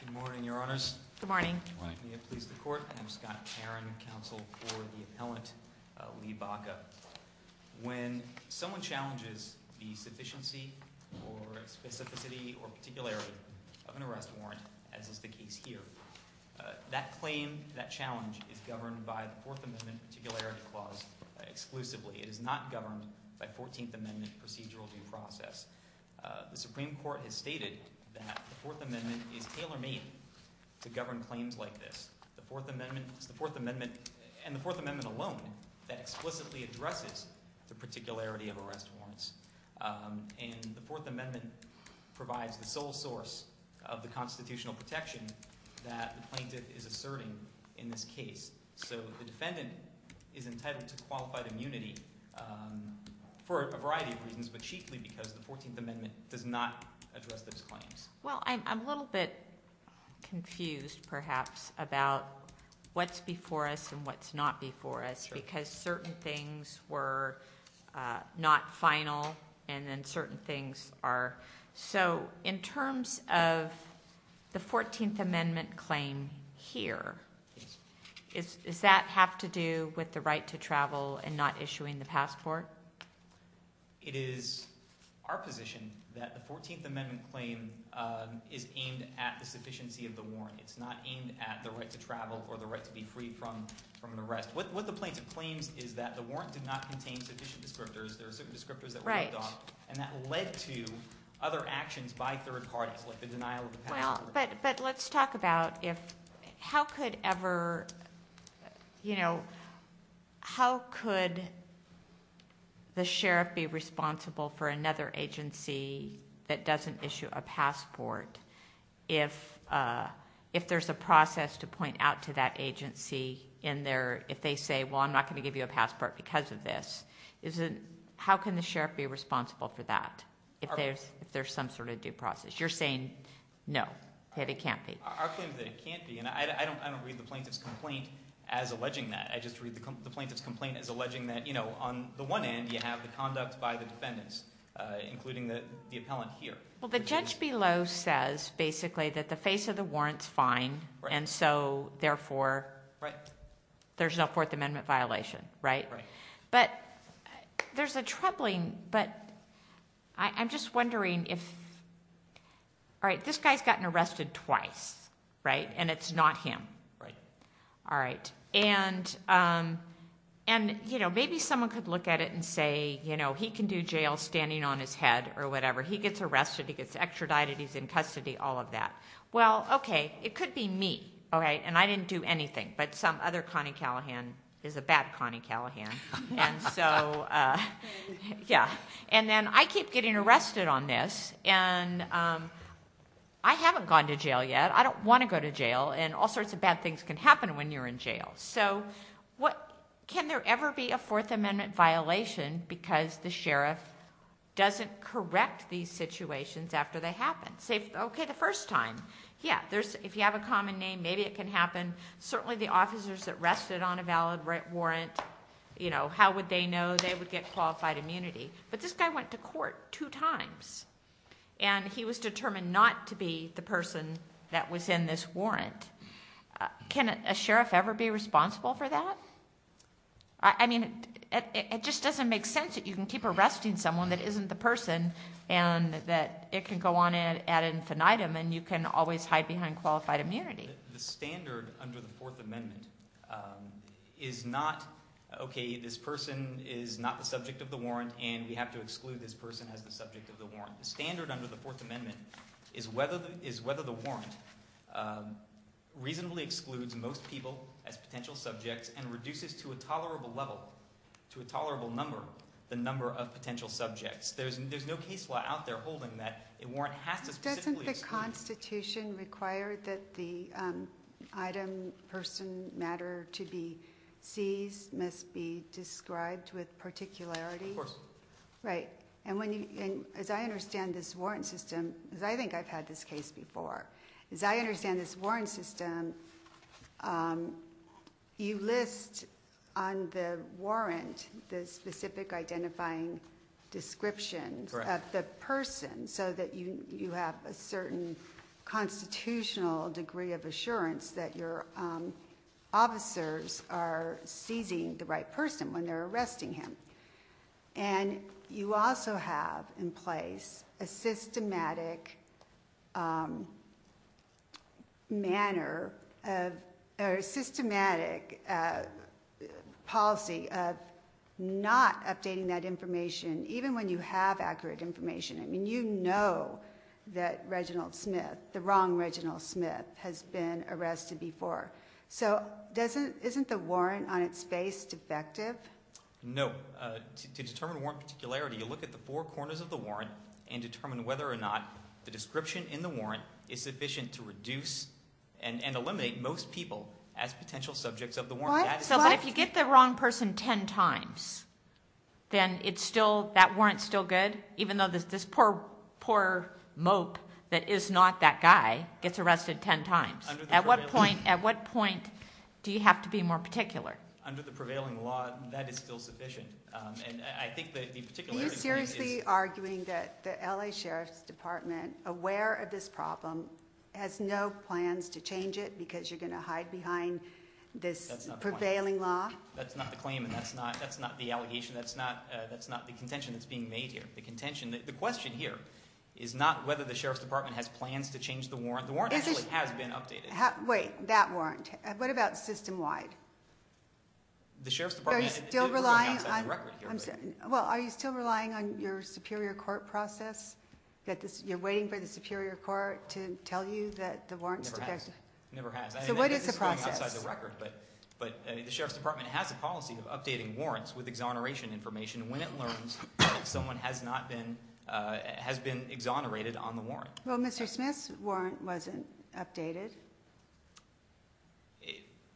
Good morning, your honors. Good morning. I'm Scott Caron, counsel for the appellant, Lee Baca. When someone challenges the sufficiency or specificity or particularity of an arrest warrant, as is the case here, that claim, that challenge, is governed by the Fourth Amendment Particularity Clause exclusively. It is not governed by Fourteenth Amendment procedural due process. The Supreme Court has stated that the Fourth Amendment is tailor-made to govern claims like this. The Fourth Amendment is the Fourth Amendment, and the Fourth Amendment alone, that explicitly addresses the particularity of arrest warrants. And the Fourth Amendment provides the sole source of the constitutional protection that the plaintiff is asserting in this case. So the defendant is entitled to qualified immunity for a variety of reasons, but chiefly because the Fourteenth Amendment does not address those claims. Well, I'm a little bit confused, perhaps, about what's before us and what's not before us because certain things were not final and then certain things are. So in terms of the Fourteenth Amendment claim here, does that have to do with the right to travel and not issuing the passport? It is our position that the Fourteenth Amendment claim is aimed at the sufficiency of the warrant. It's not aimed at the right to travel or the right to be free from an arrest. What the plaintiff claims is that the warrant did not contain sufficient descriptors. There are certain descriptors that were left off, and that led to other actions by third parties like the denial of the passport. But let's talk about how could the sheriff be responsible for another agency that doesn't issue a passport? If there's a process to point out to that agency if they say, well, I'm not going to give you a passport because of this, how can the sheriff be responsible for that if there's some sort of due process? You're saying no, that it can't be. Our claim is that it can't be, and I don't read the plaintiff's complaint as alleging that. I just read the plaintiff's complaint as alleging that on the one end you have the conduct by the defendants, including the appellant here. Well, the judge below says basically that the face of the warrant's fine, and so therefore there's no Fourth Amendment violation, right? But there's a troubling, but I'm just wondering if, all right, this guy's gotten arrested twice, right, and it's not him. All right, and maybe someone could look at it and say he can do jail standing on his head or whatever. He gets arrested, he gets extradited, he's in custody, all of that. Well, okay, it could be me, all right, and I didn't do anything, but some other Connie Callahan is a bad Connie Callahan. And so, yeah, and then I keep getting arrested on this, and I haven't gone to jail yet. I don't want to go to jail, and all sorts of bad things can happen when you're in jail. So can there ever be a Fourth Amendment violation because the sheriff doesn't correct these situations after they happen? Say, okay, the first time, yeah, if you have a common name, maybe it can happen. Certainly the officers that rested on a valid warrant, how would they know they would get qualified immunity? But this guy went to court two times, and he was determined not to be the person that was in this warrant. Can a sheriff ever be responsible for that? I mean, it just doesn't make sense that you can keep arresting someone that isn't the person, and that it can go on ad infinitum, and you can always hide behind qualified immunity. The standard under the Fourth Amendment is not, okay, this person is not the subject of the warrant, and we have to exclude this person as the subject of the warrant. The standard under the Fourth Amendment is whether the warrant reasonably excludes most people as potential subjects and reduces to a tolerable level, to a tolerable number, the number of potential subjects. There's no case law out there holding that a warrant has to specifically exclude. Doesn't the Constitution require that the item, person, matter to be seized must be described with particularity? Of course. Right. And as I understand this warrant system, because I think I've had this case before, as I understand this warrant system, you list on the warrant the specific identifying description of the person so that you have a certain constitutional degree of assurance that your officers are seizing the right person when they're arresting him. And you also have in place a systematic policy of not updating that information, even when you have accurate information. I mean, you know that Reginald Smith, the wrong Reginald Smith, has been arrested before. So isn't the warrant on its face defective? No. To determine warrant particularity, you look at the four corners of the warrant and determine whether or not the description in the warrant is sufficient to reduce and eliminate most people as potential subjects of the warrant. So if you get the wrong person ten times, then that warrant's still good, even though this poor mope that is not that guy gets arrested ten times. At what point do you have to be more particular? Under the prevailing law, that is still sufficient. Are you seriously arguing that the L.A. Sheriff's Department, aware of this problem, has no plans to change it because you're going to hide behind this prevailing law? That's not the claim, and that's not the allegation. That's not the contention that's being made here. The question here is not whether the Sheriff's Department has plans to change the warrant. The warrant actually has been updated. Wait, that warrant. What about system-wide? Are you still relying on your superior court process? You're waiting for the superior court to tell you that the warrant's defective? It never has. So what is the process? The Sheriff's Department has a policy of updating warrants with exoneration information Well, Mr. Smith's warrant wasn't updated.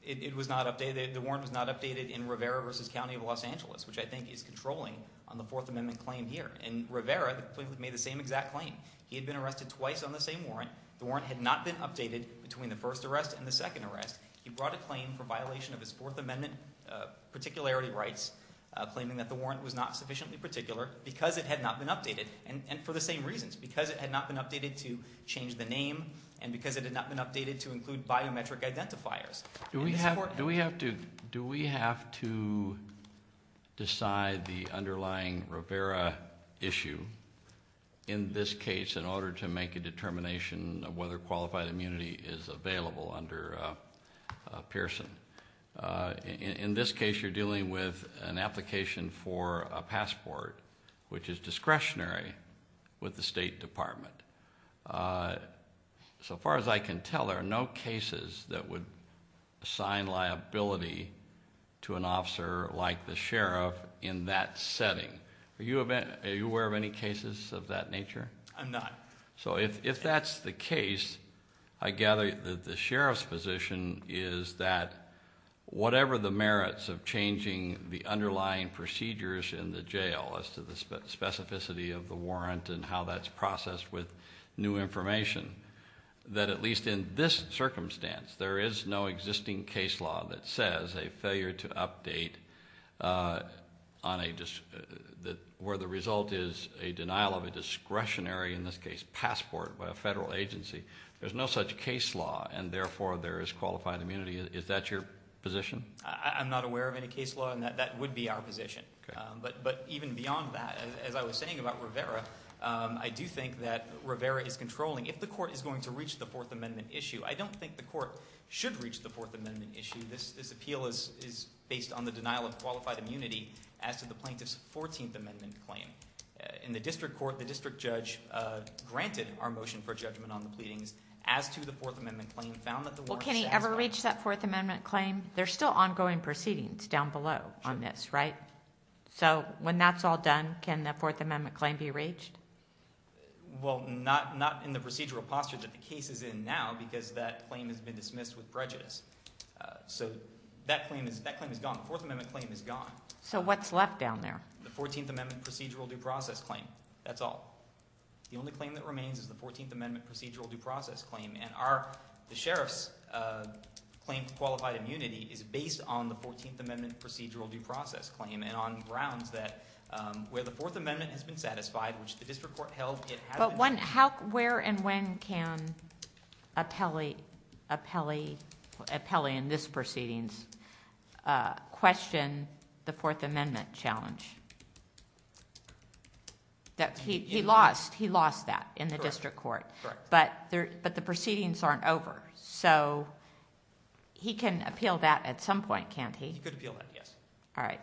It was not updated. The warrant was not updated in Rivera v. County of Los Angeles, which I think is controlling on the Fourth Amendment claim here. In Rivera, they made the same exact claim. He had been arrested twice on the same warrant. The warrant had not been updated between the first arrest and the second arrest. He brought a claim for violation of his Fourth Amendment particularity rights, claiming that the warrant was not sufficiently particular because it had not been updated, and for the same reasons, because it had not been updated to change the name and because it had not been updated to include biometric identifiers. Do we have to decide the underlying Rivera issue in this case in order to make a determination of whether qualified immunity is available under Pearson? In this case, you're dealing with an application for a passport, which is discretionary with the State Department. So far as I can tell, there are no cases that would assign liability to an officer like the Sheriff in that setting. Are you aware of any cases of that nature? I'm not. So if that's the case, I gather that the Sheriff's position is that whatever the merits of changing the underlying procedures in the jail as to the specificity of the warrant and how that's processed with new information, that at least in this circumstance, there is no existing case law that says a failure to update where the result is a denial of a discretionary, in this case passport, by a federal agency. There's no such case law, and therefore there is qualified immunity. Is that your position? I'm not aware of any case law, and that would be our position. But even beyond that, as I was saying about Rivera, I do think that Rivera is controlling if the court is going to reach the Fourth Amendment issue. I don't think the court should reach the Fourth Amendment issue. This appeal is based on the denial of qualified immunity as to the plaintiff's Fourteenth Amendment claim. In the district court, the district judge granted our motion for judgment on the pleadings as to the Fourth Amendment claim, found that the warrant— Well, can he ever reach that Fourth Amendment claim? There's still ongoing proceedings down below on this, right? So when that's all done, can the Fourth Amendment claim be reached? Well, not in the procedural posture that the case is in now, because that claim has been dismissed with prejudice. So that claim is gone. The Fourth Amendment claim is gone. So what's left down there? The Fourteenth Amendment procedural due process claim. That's all. The only claim that remains is the Fourteenth Amendment procedural due process claim, and the sheriff's claim for qualified immunity is based on the Fourteenth Amendment procedural due process claim and on grounds that where the Fourth Amendment has been satisfied, which the district court held— But where and when can Apelli in this proceedings question the Fourth Amendment challenge? He lost that in the district court, but the proceedings aren't over. So he can appeal that at some point, can't he? He could appeal that, yes. All right.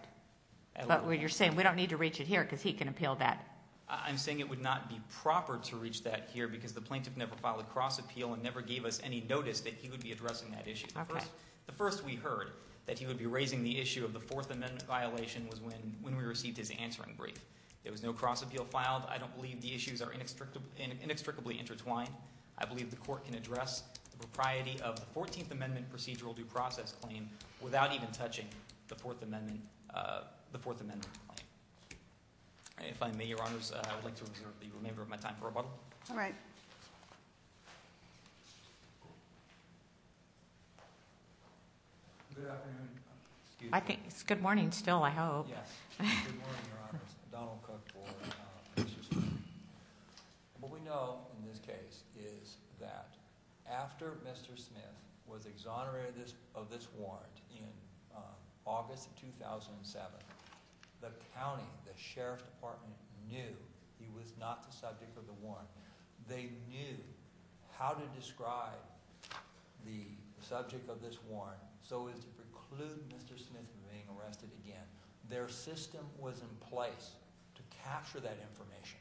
But you're saying we don't need to reach it here because he can appeal that? I'm saying it would not be proper to reach that here because the plaintiff never filed a cross appeal and never gave us any notice that he would be addressing that issue. The first we heard that he would be raising the issue of the Fourth Amendment violation was when we received his answering brief. There was no cross appeal filed. I don't believe the issues are inextricably intertwined. I believe the court can address the propriety of the Fourteenth Amendment procedural due process claim without even touching the Fourth Amendment claim. If I may, Your Honors, I would like to reserve the remainder of my time for rebuttal. All right. Good afternoon. Good morning still, I hope. Yes. Good morning, Your Honors. Donald Cook for Mr. Smith. What we know in this case is that after Mr. Smith was exonerated of this warrant in August 2007, the county, the sheriff's department, knew he was not the subject of the warrant. They knew how to describe the subject of this warrant so as to preclude Mr. Smith from being arrested again. Their system was in place to capture that information.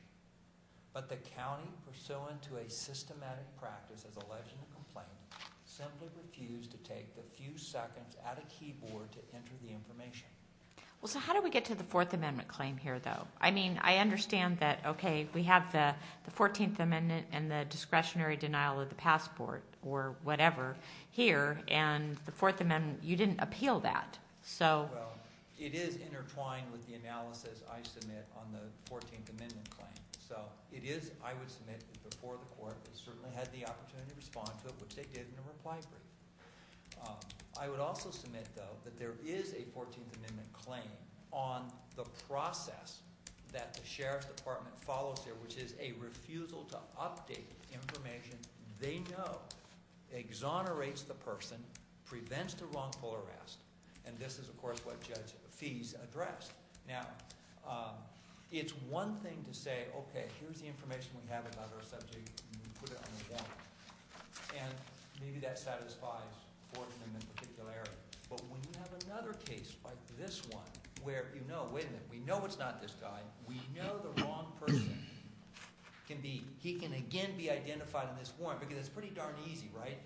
But the county, pursuant to a systematic practice as alleged in the complaint, simply refused to take the few seconds at a keyboard to enter the information. Well, so how do we get to the Fourth Amendment claim here, though? I mean, I understand that, okay, we have the Fourteenth Amendment and the discretionary denial of the passport or whatever here, and the Fourth Amendment, you didn't appeal that. Well, it is intertwined with the analysis I submit on the Fourteenth Amendment claim. So it is, I would submit, before the court that certainly had the opportunity to respond to it, which they did in a reply brief. I would also submit, though, that there is a Fourteenth Amendment claim on the process that the sheriff's department follows here, which is a refusal to update information they know exonerates the person, prevents the wrongful arrest, and this is, of course, what Judge Feese addressed. Now, it's one thing to say, okay, here's the information we have about our subject, and we put it on the warrant. And maybe that satisfies Fourth Amendment particularity, but when you have another case like this one where you know, wait a minute, we know it's not this guy, we know the wrong person, he can again be identified on this warrant, because it's pretty darn easy, right?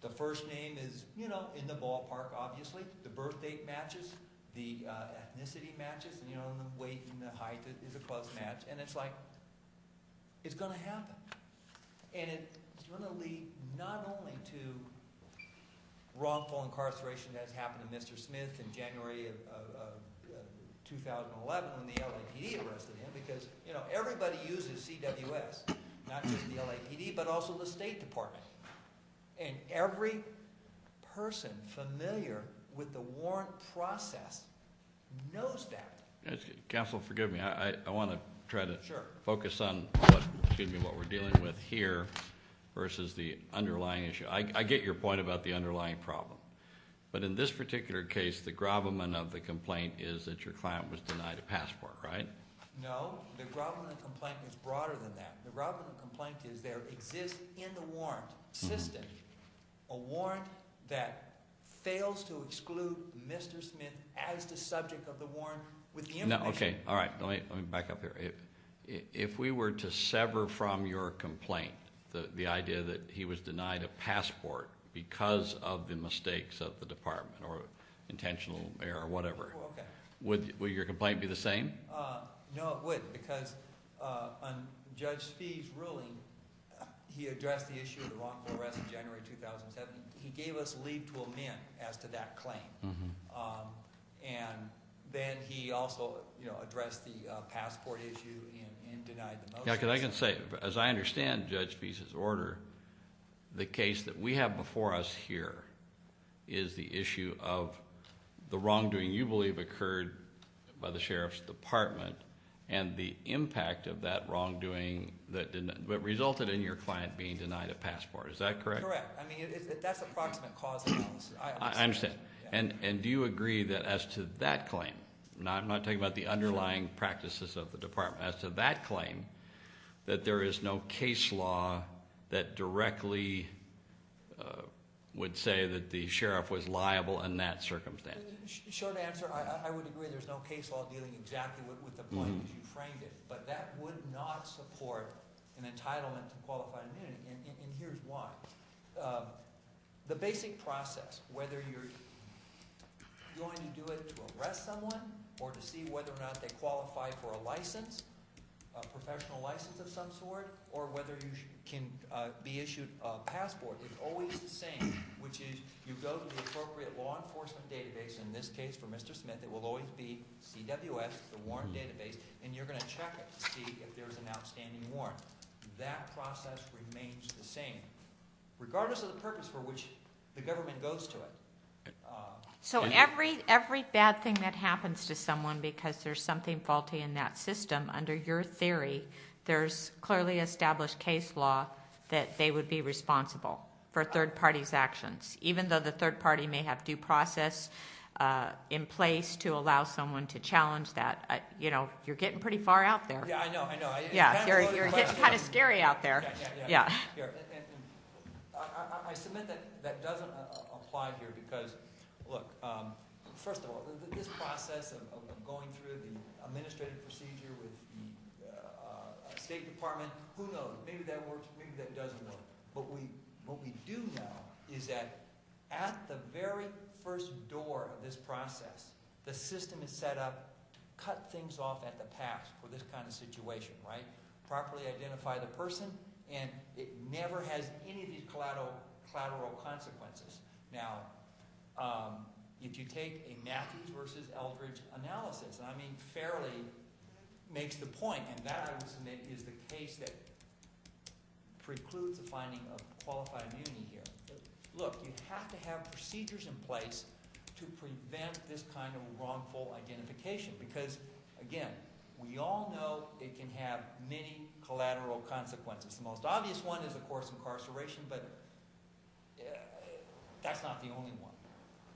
The first name is in the ballpark, obviously, the birthdate matches, the ethnicity matches, and the weight and the height is a close match, and it's like, it's going to happen. And it's going to lead not only to wrongful incarceration as happened to Mr. Smith in January of 2011 when the LAPD arrested him, because everybody uses CWS, not just the LAPD, but also the State Department. And every person familiar with the warrant process knows that. Counsel, forgive me. I want to try to focus on what we're dealing with here versus the underlying issue. I get your point about the underlying problem, but in this particular case, the gravamen of the complaint is that your client was denied a passport, right? No. The gravamen of the complaint is broader than that. The gravamen of the complaint is there exists in the warrant system a warrant that fails to exclude Mr. Smith as the subject of the warrant with the information. Okay, all right. Let me back up here. If we were to sever from your complaint the idea that he was denied a passport because of the mistakes of the department or intentional error or whatever, would your complaint be the same? No, it wouldn't, because on Judge Fee's ruling, he addressed the issue of the wrongful arrest in January 2007. He gave us leave to amend as to that claim, and then he also addressed the passport issue and denied the motion. I can say, as I understand Judge Fee's order, the case that we have before us here is the issue of the wrongdoing you believe occurred by the Sheriff's Department and the impact of that wrongdoing that resulted in your client being denied a passport. Is that correct? That's correct. I mean, that's approximate cause of release. I understand. And do you agree that as to that claim? I'm not talking about the underlying practices of the department. As to that claim, that there is no case law that directly would say that the Sheriff was liable in that circumstance? Short answer, I would agree there's no case law dealing exactly with the point that you framed it, but that would not support an entitlement to qualified immunity, and here's why. The basic process, whether you're going to do it to arrest someone or to see whether or not they qualify for a license, a professional license of some sort, or whether you can be issued a passport, is always the same, which is you go to the appropriate law enforcement database, in this case for Mr. Smith, it will always be CWS, the warrant database, and you're going to check it to see if there's an outstanding warrant. That process remains the same, regardless of the purpose for which the government goes to it. So every bad thing that happens to someone because there's something faulty in that system, under your theory, there's clearly established case law that they would be responsible for a third party's actions, even though the third party may have due process in place to allow someone to challenge that. You're getting pretty far out there. Yeah, I know, I know. You're getting kind of scary out there. I submit that that doesn't apply here because, look, first of all, this process of going through the administrative procedure with the State Department, who knows, maybe that works, maybe that doesn't work. What we do know is that at the very first door of this process, the system is set up to cut things off at the pass for this kind of situation, right? Properly identify the person, and it never has any of these collateral consequences. Now, if you take a Matthews versus Eldridge analysis, and I mean fairly makes the point, and that, I would submit, is the case that precludes the finding of qualified immunity here. Look, you have to have procedures in place to prevent this kind of wrongful identification because, again, we all know it can have many collateral consequences. The most obvious one is, of course, incarceration, but that's not the only one.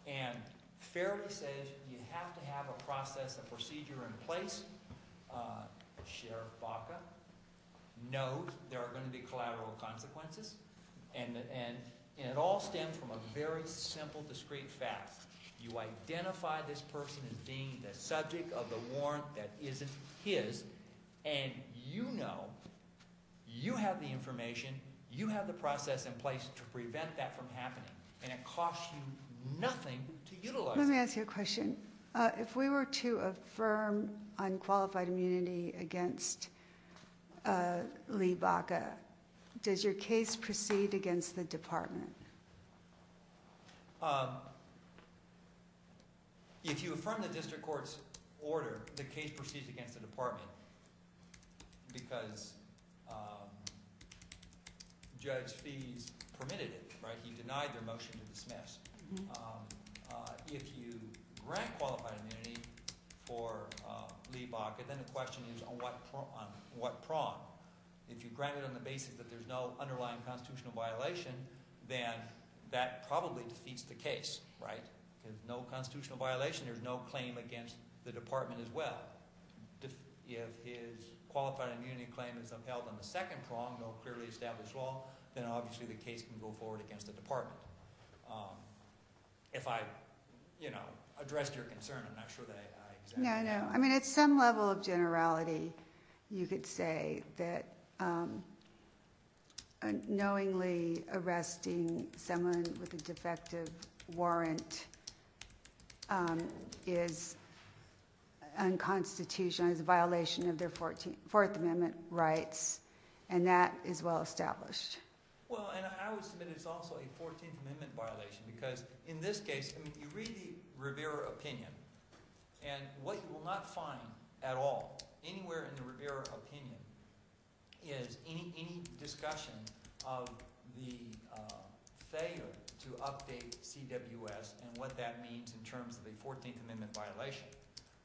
And fairly says you have to have a process, a procedure in place. Sheriff Baca knows there are going to be collateral consequences, and it all stems from a very simple, discreet fact. You identify this person as being the subject of the warrant that isn't his, and you know you have the information, you have the process in place to prevent that from happening, and it costs you nothing to utilize it. Let me ask you a question. If we were to affirm unqualified immunity against Lee Baca, does your case proceed against the department? If you affirm the district court's order, the case proceeds against the department because Judge Fees permitted it, right? He denied their motion to dismiss. If you grant qualified immunity for Lee Baca, then the question is on what prong? If you grant it on the basis that there's no underlying constitutional violation, then that probably defeats the case, right? There's no constitutional violation. There's no claim against the department as well. If his qualified immunity claim is upheld on the second prong, no clearly established law, then obviously the case can go forward against the department. If I, you know, addressed your concern, I'm not sure that I examined it. No, no. I mean at some level of generality, you could say that knowingly arresting someone with a defective warrant is unconstitutional, is a violation of their Fourth Amendment rights, and that is well established. Well, and I would submit it's also a Fourteenth Amendment violation because in this case, I mean you read the Rivera opinion, and what you will not find at all anywhere in the Rivera opinion is any discussion of the failure to update CWS and what that means in terms of a Fourteenth Amendment violation,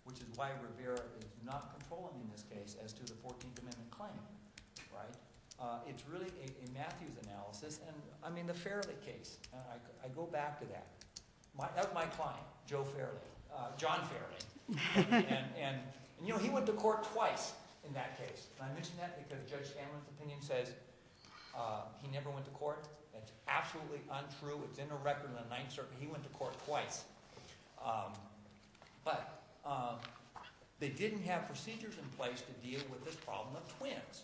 which is why Rivera is not controlling in this case as to the Fourteenth Amendment claim, right? It's really a Matthews analysis, and I mean the Fairley case. I go back to that. That was my client, Joe Fairley, John Fairley, and he went to court twice in that case, and I mention that because Judge Sandler's opinion says he never went to court. That's absolutely untrue. It's in the record in the Ninth Circuit. He went to court twice, but they didn't have procedures in place to deal with this problem of twins,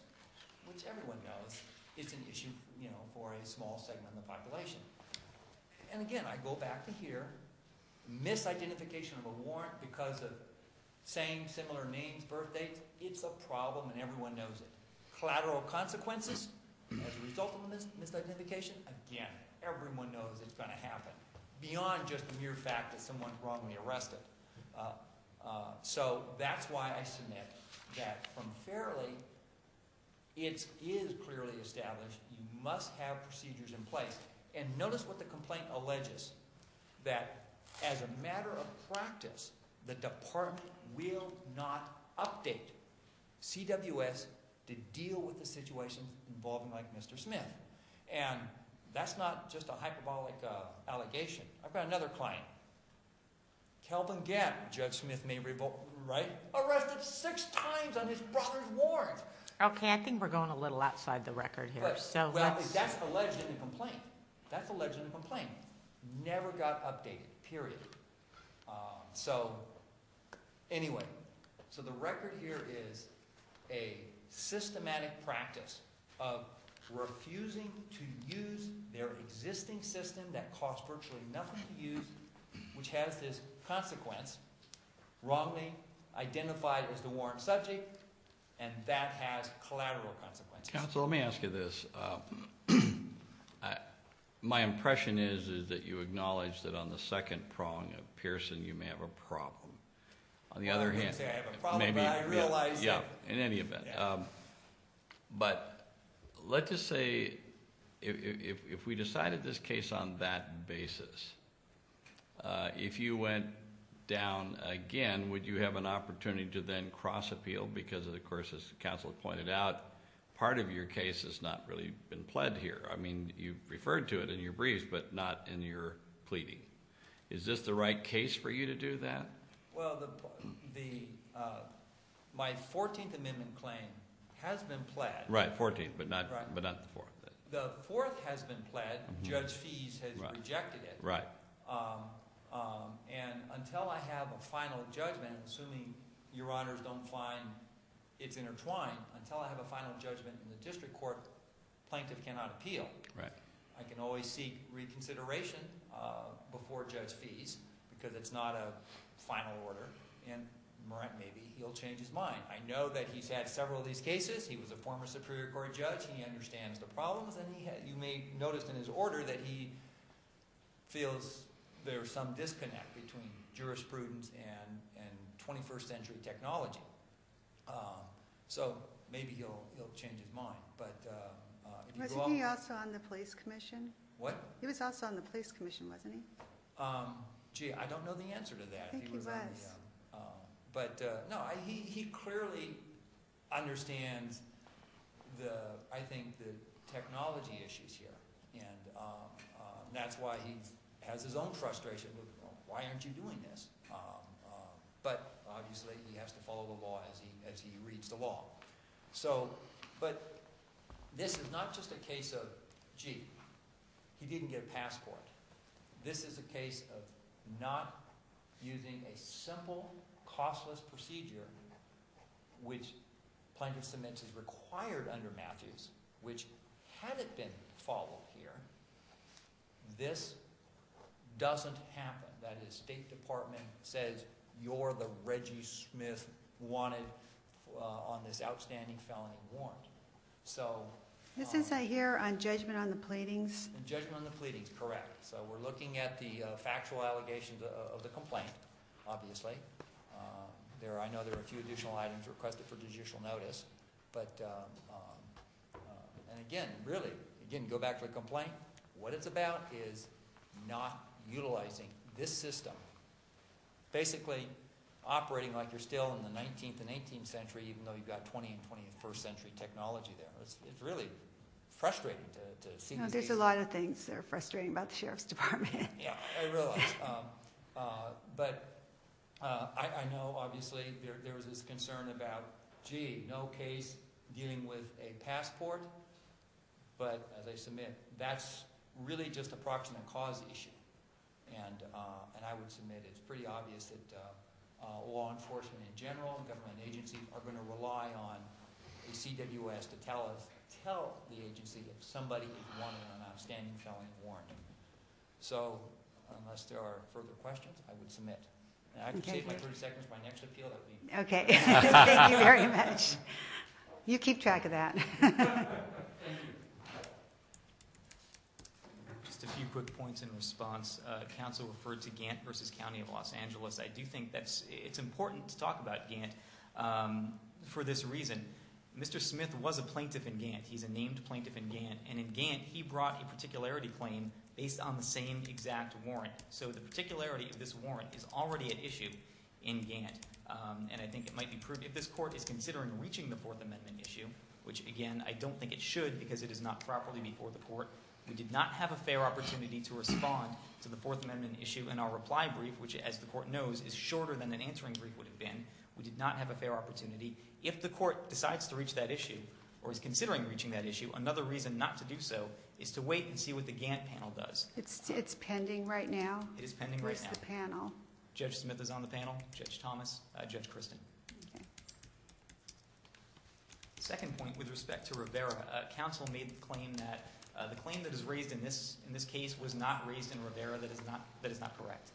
which everyone knows is an issue for a small segment of the population. And again, I go back to here. Misidentification of a warrant because of same, similar names, birth dates, it's a problem and everyone knows it. Collateral consequences as a result of the misidentification, again, everyone knows it's going to happen beyond just the mere fact that someone is wrongly arrested. So that's why I submit that from Fairley, it is clearly established you must have procedures in place. And notice what the complaint alleges, that as a matter of practice, the department will not update CWS to deal with a situation involving Mike Mr. Smith. And that's not just a hyperbolic allegation. I've got another client, Kelvin Gap, Judge Smith may be right, arrested six times on his brother's warrant. Okay, I think we're going a little outside the record here. That's alleged in the complaint. That's alleged in the complaint. Never got updated, period. So anyway, so the record here is a systematic practice of refusing to use their existing system that costs virtually nothing to use, which has this consequence, wrongly identified as the warrant subject, and that has collateral consequences. Counsel, let me ask you this. My impression is that you acknowledge that on the second prong of Pearson, you may have a problem. On the other hand- I wouldn't say I have a problem, but I realize- Yeah, in any event. But let's just say, if we decided this case on that basis, if you went down again, would you have an opportunity to then cross-appeal? Because, of course, as counsel pointed out, part of your case has not really been pled here. I mean, you referred to it in your briefs, but not in your pleading. Is this the right case for you to do that? Well, my 14th amendment claim has been pled. Right, 14th, but not the 4th. The 4th has been pled. Judge Fies has rejected it. Right. And until I have a final judgment, assuming your honors don't find it's intertwined, until I have a final judgment in the district court, plaintiff cannot appeal. Right. I can always seek reconsideration before Judge Fies, because it's not a final order, and maybe he'll change his mind. I know that he's had several of these cases. He was a former Superior Court judge. He understands the problems, and you may have noticed in his order that he feels there's some disconnect between jurisprudence and 21st century technology. So maybe he'll change his mind. Wasn't he also on the police commission? What? He was also on the police commission, wasn't he? Gee, I don't know the answer to that. I think he was. But no, he clearly understands, I think, the technology issues here, and that's why he has his own frustration. Why aren't you doing this? But obviously he has to follow the law as he reads the law. But this is not just a case of, gee, he didn't get a passport. This is a case of not using a simple, costless procedure, which plaintiff submits as required under Matthews, which hadn't been followed here. This doesn't happen. That is, the State Department says, you're the Reggie Smith wanted on this outstanding felony warrant. This isn't here on judgment on the pleadings? Judgment on the pleadings, correct. We're looking at the factual allegations of the complaint, obviously. I know there are a few additional items requested for judicial notice. And again, really, again, go back to the complaint. What it's about is not utilizing this system. Basically operating like you're still in the 19th and 18th century, even though you've got 20th and 21st century technology there. It's really frustrating to see these cases. There's a lot of things that are frustrating about the sheriff's department. Yeah, I realize. But I know, obviously, there was this concern about, gee, no case dealing with a passport. But as I submit, that's really just a proximate cause issue. And I would submit it's pretty obvious that law enforcement in general and government agencies are going to rely on the CWS to tell the agency if somebody wanted an outstanding felony warrant. So unless there are further questions, I would submit. I can take my 30 seconds for my next appeal. Okay. Thank you very much. You keep track of that. Just a few quick points in response. Counsel referred to Gantt v. County of Los Angeles. I do think it's important to talk about Gantt for this reason. Mr. Smith was a plaintiff in Gantt. He's a named plaintiff in Gantt. And in Gantt, he brought a particularity claim based on the same exact warrant. So the particularity of this warrant is already at issue in Gantt. And I think it might be proved if this court is considering reaching the Fourth Amendment issue, which, again, I don't think it should because it is not properly before the court. We did not have a fair opportunity to respond to the Fourth Amendment issue in our reply brief, which, as the court knows, is shorter than an answering brief would have been. We did not have a fair opportunity. If the court decides to reach that issue or is considering reaching that issue, another reason not to do so is to wait and see what the Gantt panel does. It's pending right now? It is pending right now. Where's the panel? Judge Smith is on the panel, Judge Thomas, Judge Kristen. Okay. Second point with respect to Rivera. Counsel made the claim that the claim that is raised in this case was not raised in Rivera that is not correct.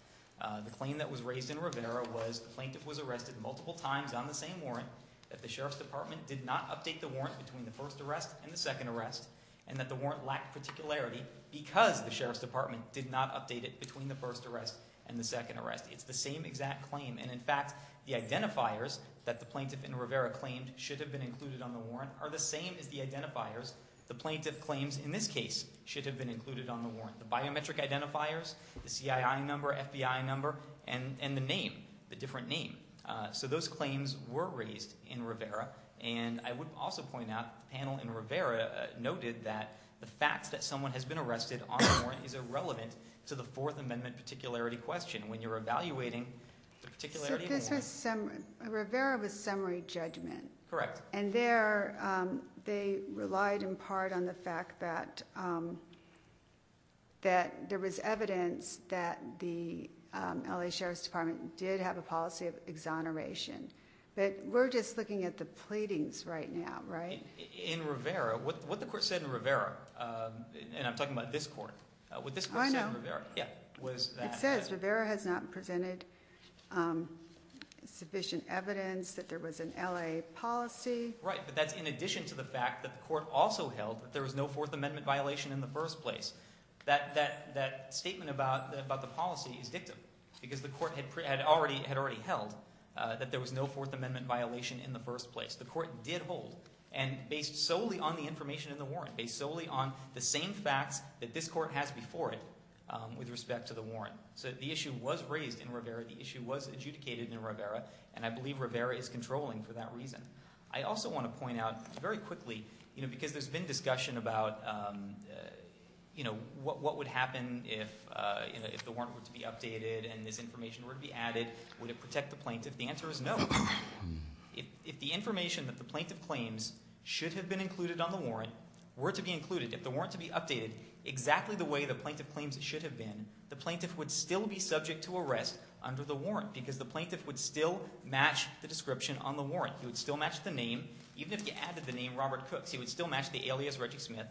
The claim that was raised in Rivera was the plaintiff was arrested multiple times on the same warrant, that the Sheriff's Department did not update the warrant between the first arrest and the second arrest, and that the warrant lacked particularity because the Sheriff's Department did not update it between the first arrest and the second arrest. It's the same exact claim. And, in fact, the identifiers that the plaintiff in Rivera claimed should have been included on the warrant are the same as the identifiers the plaintiff claims in this case should have been included on the warrant. The biometric identifiers, the CII number, FBI number, and the name, the different name. So those claims were raised in Rivera. And I would also point out the panel in Rivera noted that the fact that someone has been arrested on the warrant is irrelevant to the Fourth Amendment particularity question when you're evaluating the particularity of the warrant. Rivera was summary judgment. Correct. And there they relied in part on the fact that there was evidence that the L.A. Sheriff's Department did have a policy of exoneration. But we're just looking at the pleadings right now, right? In Rivera, what the court said in Rivera, and I'm talking about this court, what this court said in Rivera was that. Because Rivera has not presented sufficient evidence that there was an L.A. policy. Right, but that's in addition to the fact that the court also held that there was no Fourth Amendment violation in the first place. That statement about the policy is dictum because the court had already held that there was no Fourth Amendment violation in the first place. The court did hold. And based solely on the information in the warrant. Based solely on the same facts that this court has before it with respect to the warrant. So the issue was raised in Rivera. The issue was adjudicated in Rivera. And I believe Rivera is controlling for that reason. I also want to point out very quickly, because there's been discussion about what would happen if the warrant were to be updated and this information were to be added. Would it protect the plaintiff? The answer is no. If the information that the plaintiff claims should have been included on the warrant were to be included. If the warrant were to be updated exactly the way the plaintiff claims it should have been, the plaintiff would still be subject to arrest under the warrant. Because the plaintiff would still match the description on the warrant. He would still match the name. Even if you added the name Robert Cooks, he would still match the alias Reggie Smith.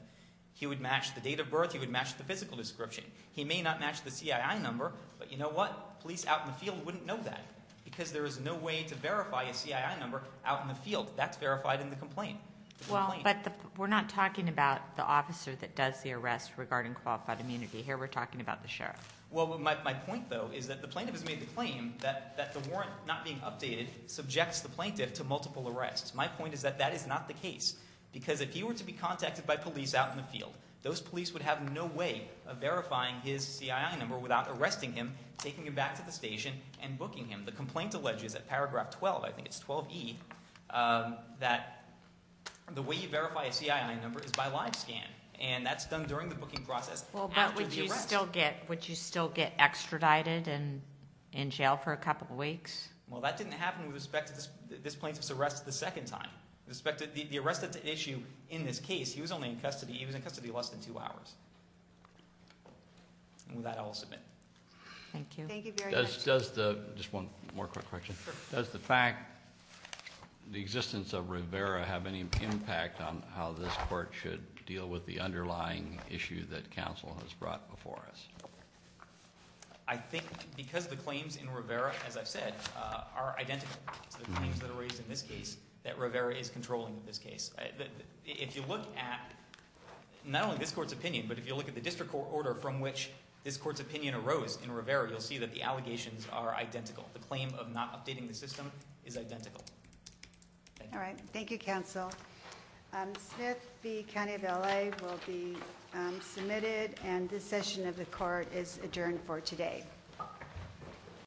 He would match the date of birth. He would match the physical description. He may not match the CII number, but you know what? Police out in the field wouldn't know that because there is no way to verify a CII number out in the field. That's verified in the complaint. Well, but we're not talking about the officer that does the arrest regarding qualified immunity. Here we're talking about the sheriff. Well, my point, though, is that the plaintiff has made the claim that the warrant not being updated subjects the plaintiff to multiple arrests. My point is that that is not the case. Because if he were to be contacted by police out in the field, those police would have no way of verifying his CII number without arresting him, taking him back to the station, and booking him. The complaint alleges at paragraph 12, I think it's 12E, that the way you verify a CII number is by live scan. And that's done during the booking process after the arrest. But would you still get extradited and in jail for a couple weeks? Well, that didn't happen with respect to this plaintiff's arrest the second time. With respect to the arrest at the issue in this case, he was only in custody. He was in custody less than two hours. And with that, I'll submit. Thank you. Thank you very much. Just one more quick question. Does the fact, the existence of Rivera have any impact on how this court should deal with the underlying issue that counsel has brought before us? I think because the claims in Rivera, as I've said, are identical to the claims that are raised in this case, that Rivera is controlling this case. If you look at not only this court's opinion, but if you look at the district court order from which this court's opinion arose in Rivera, you'll see that the allegations are identical. The claim of not updating the system is identical. Thank you. All right. Thank you, counsel. Smith v. County of L.A. will be submitted, and this session of the court is adjourned for today.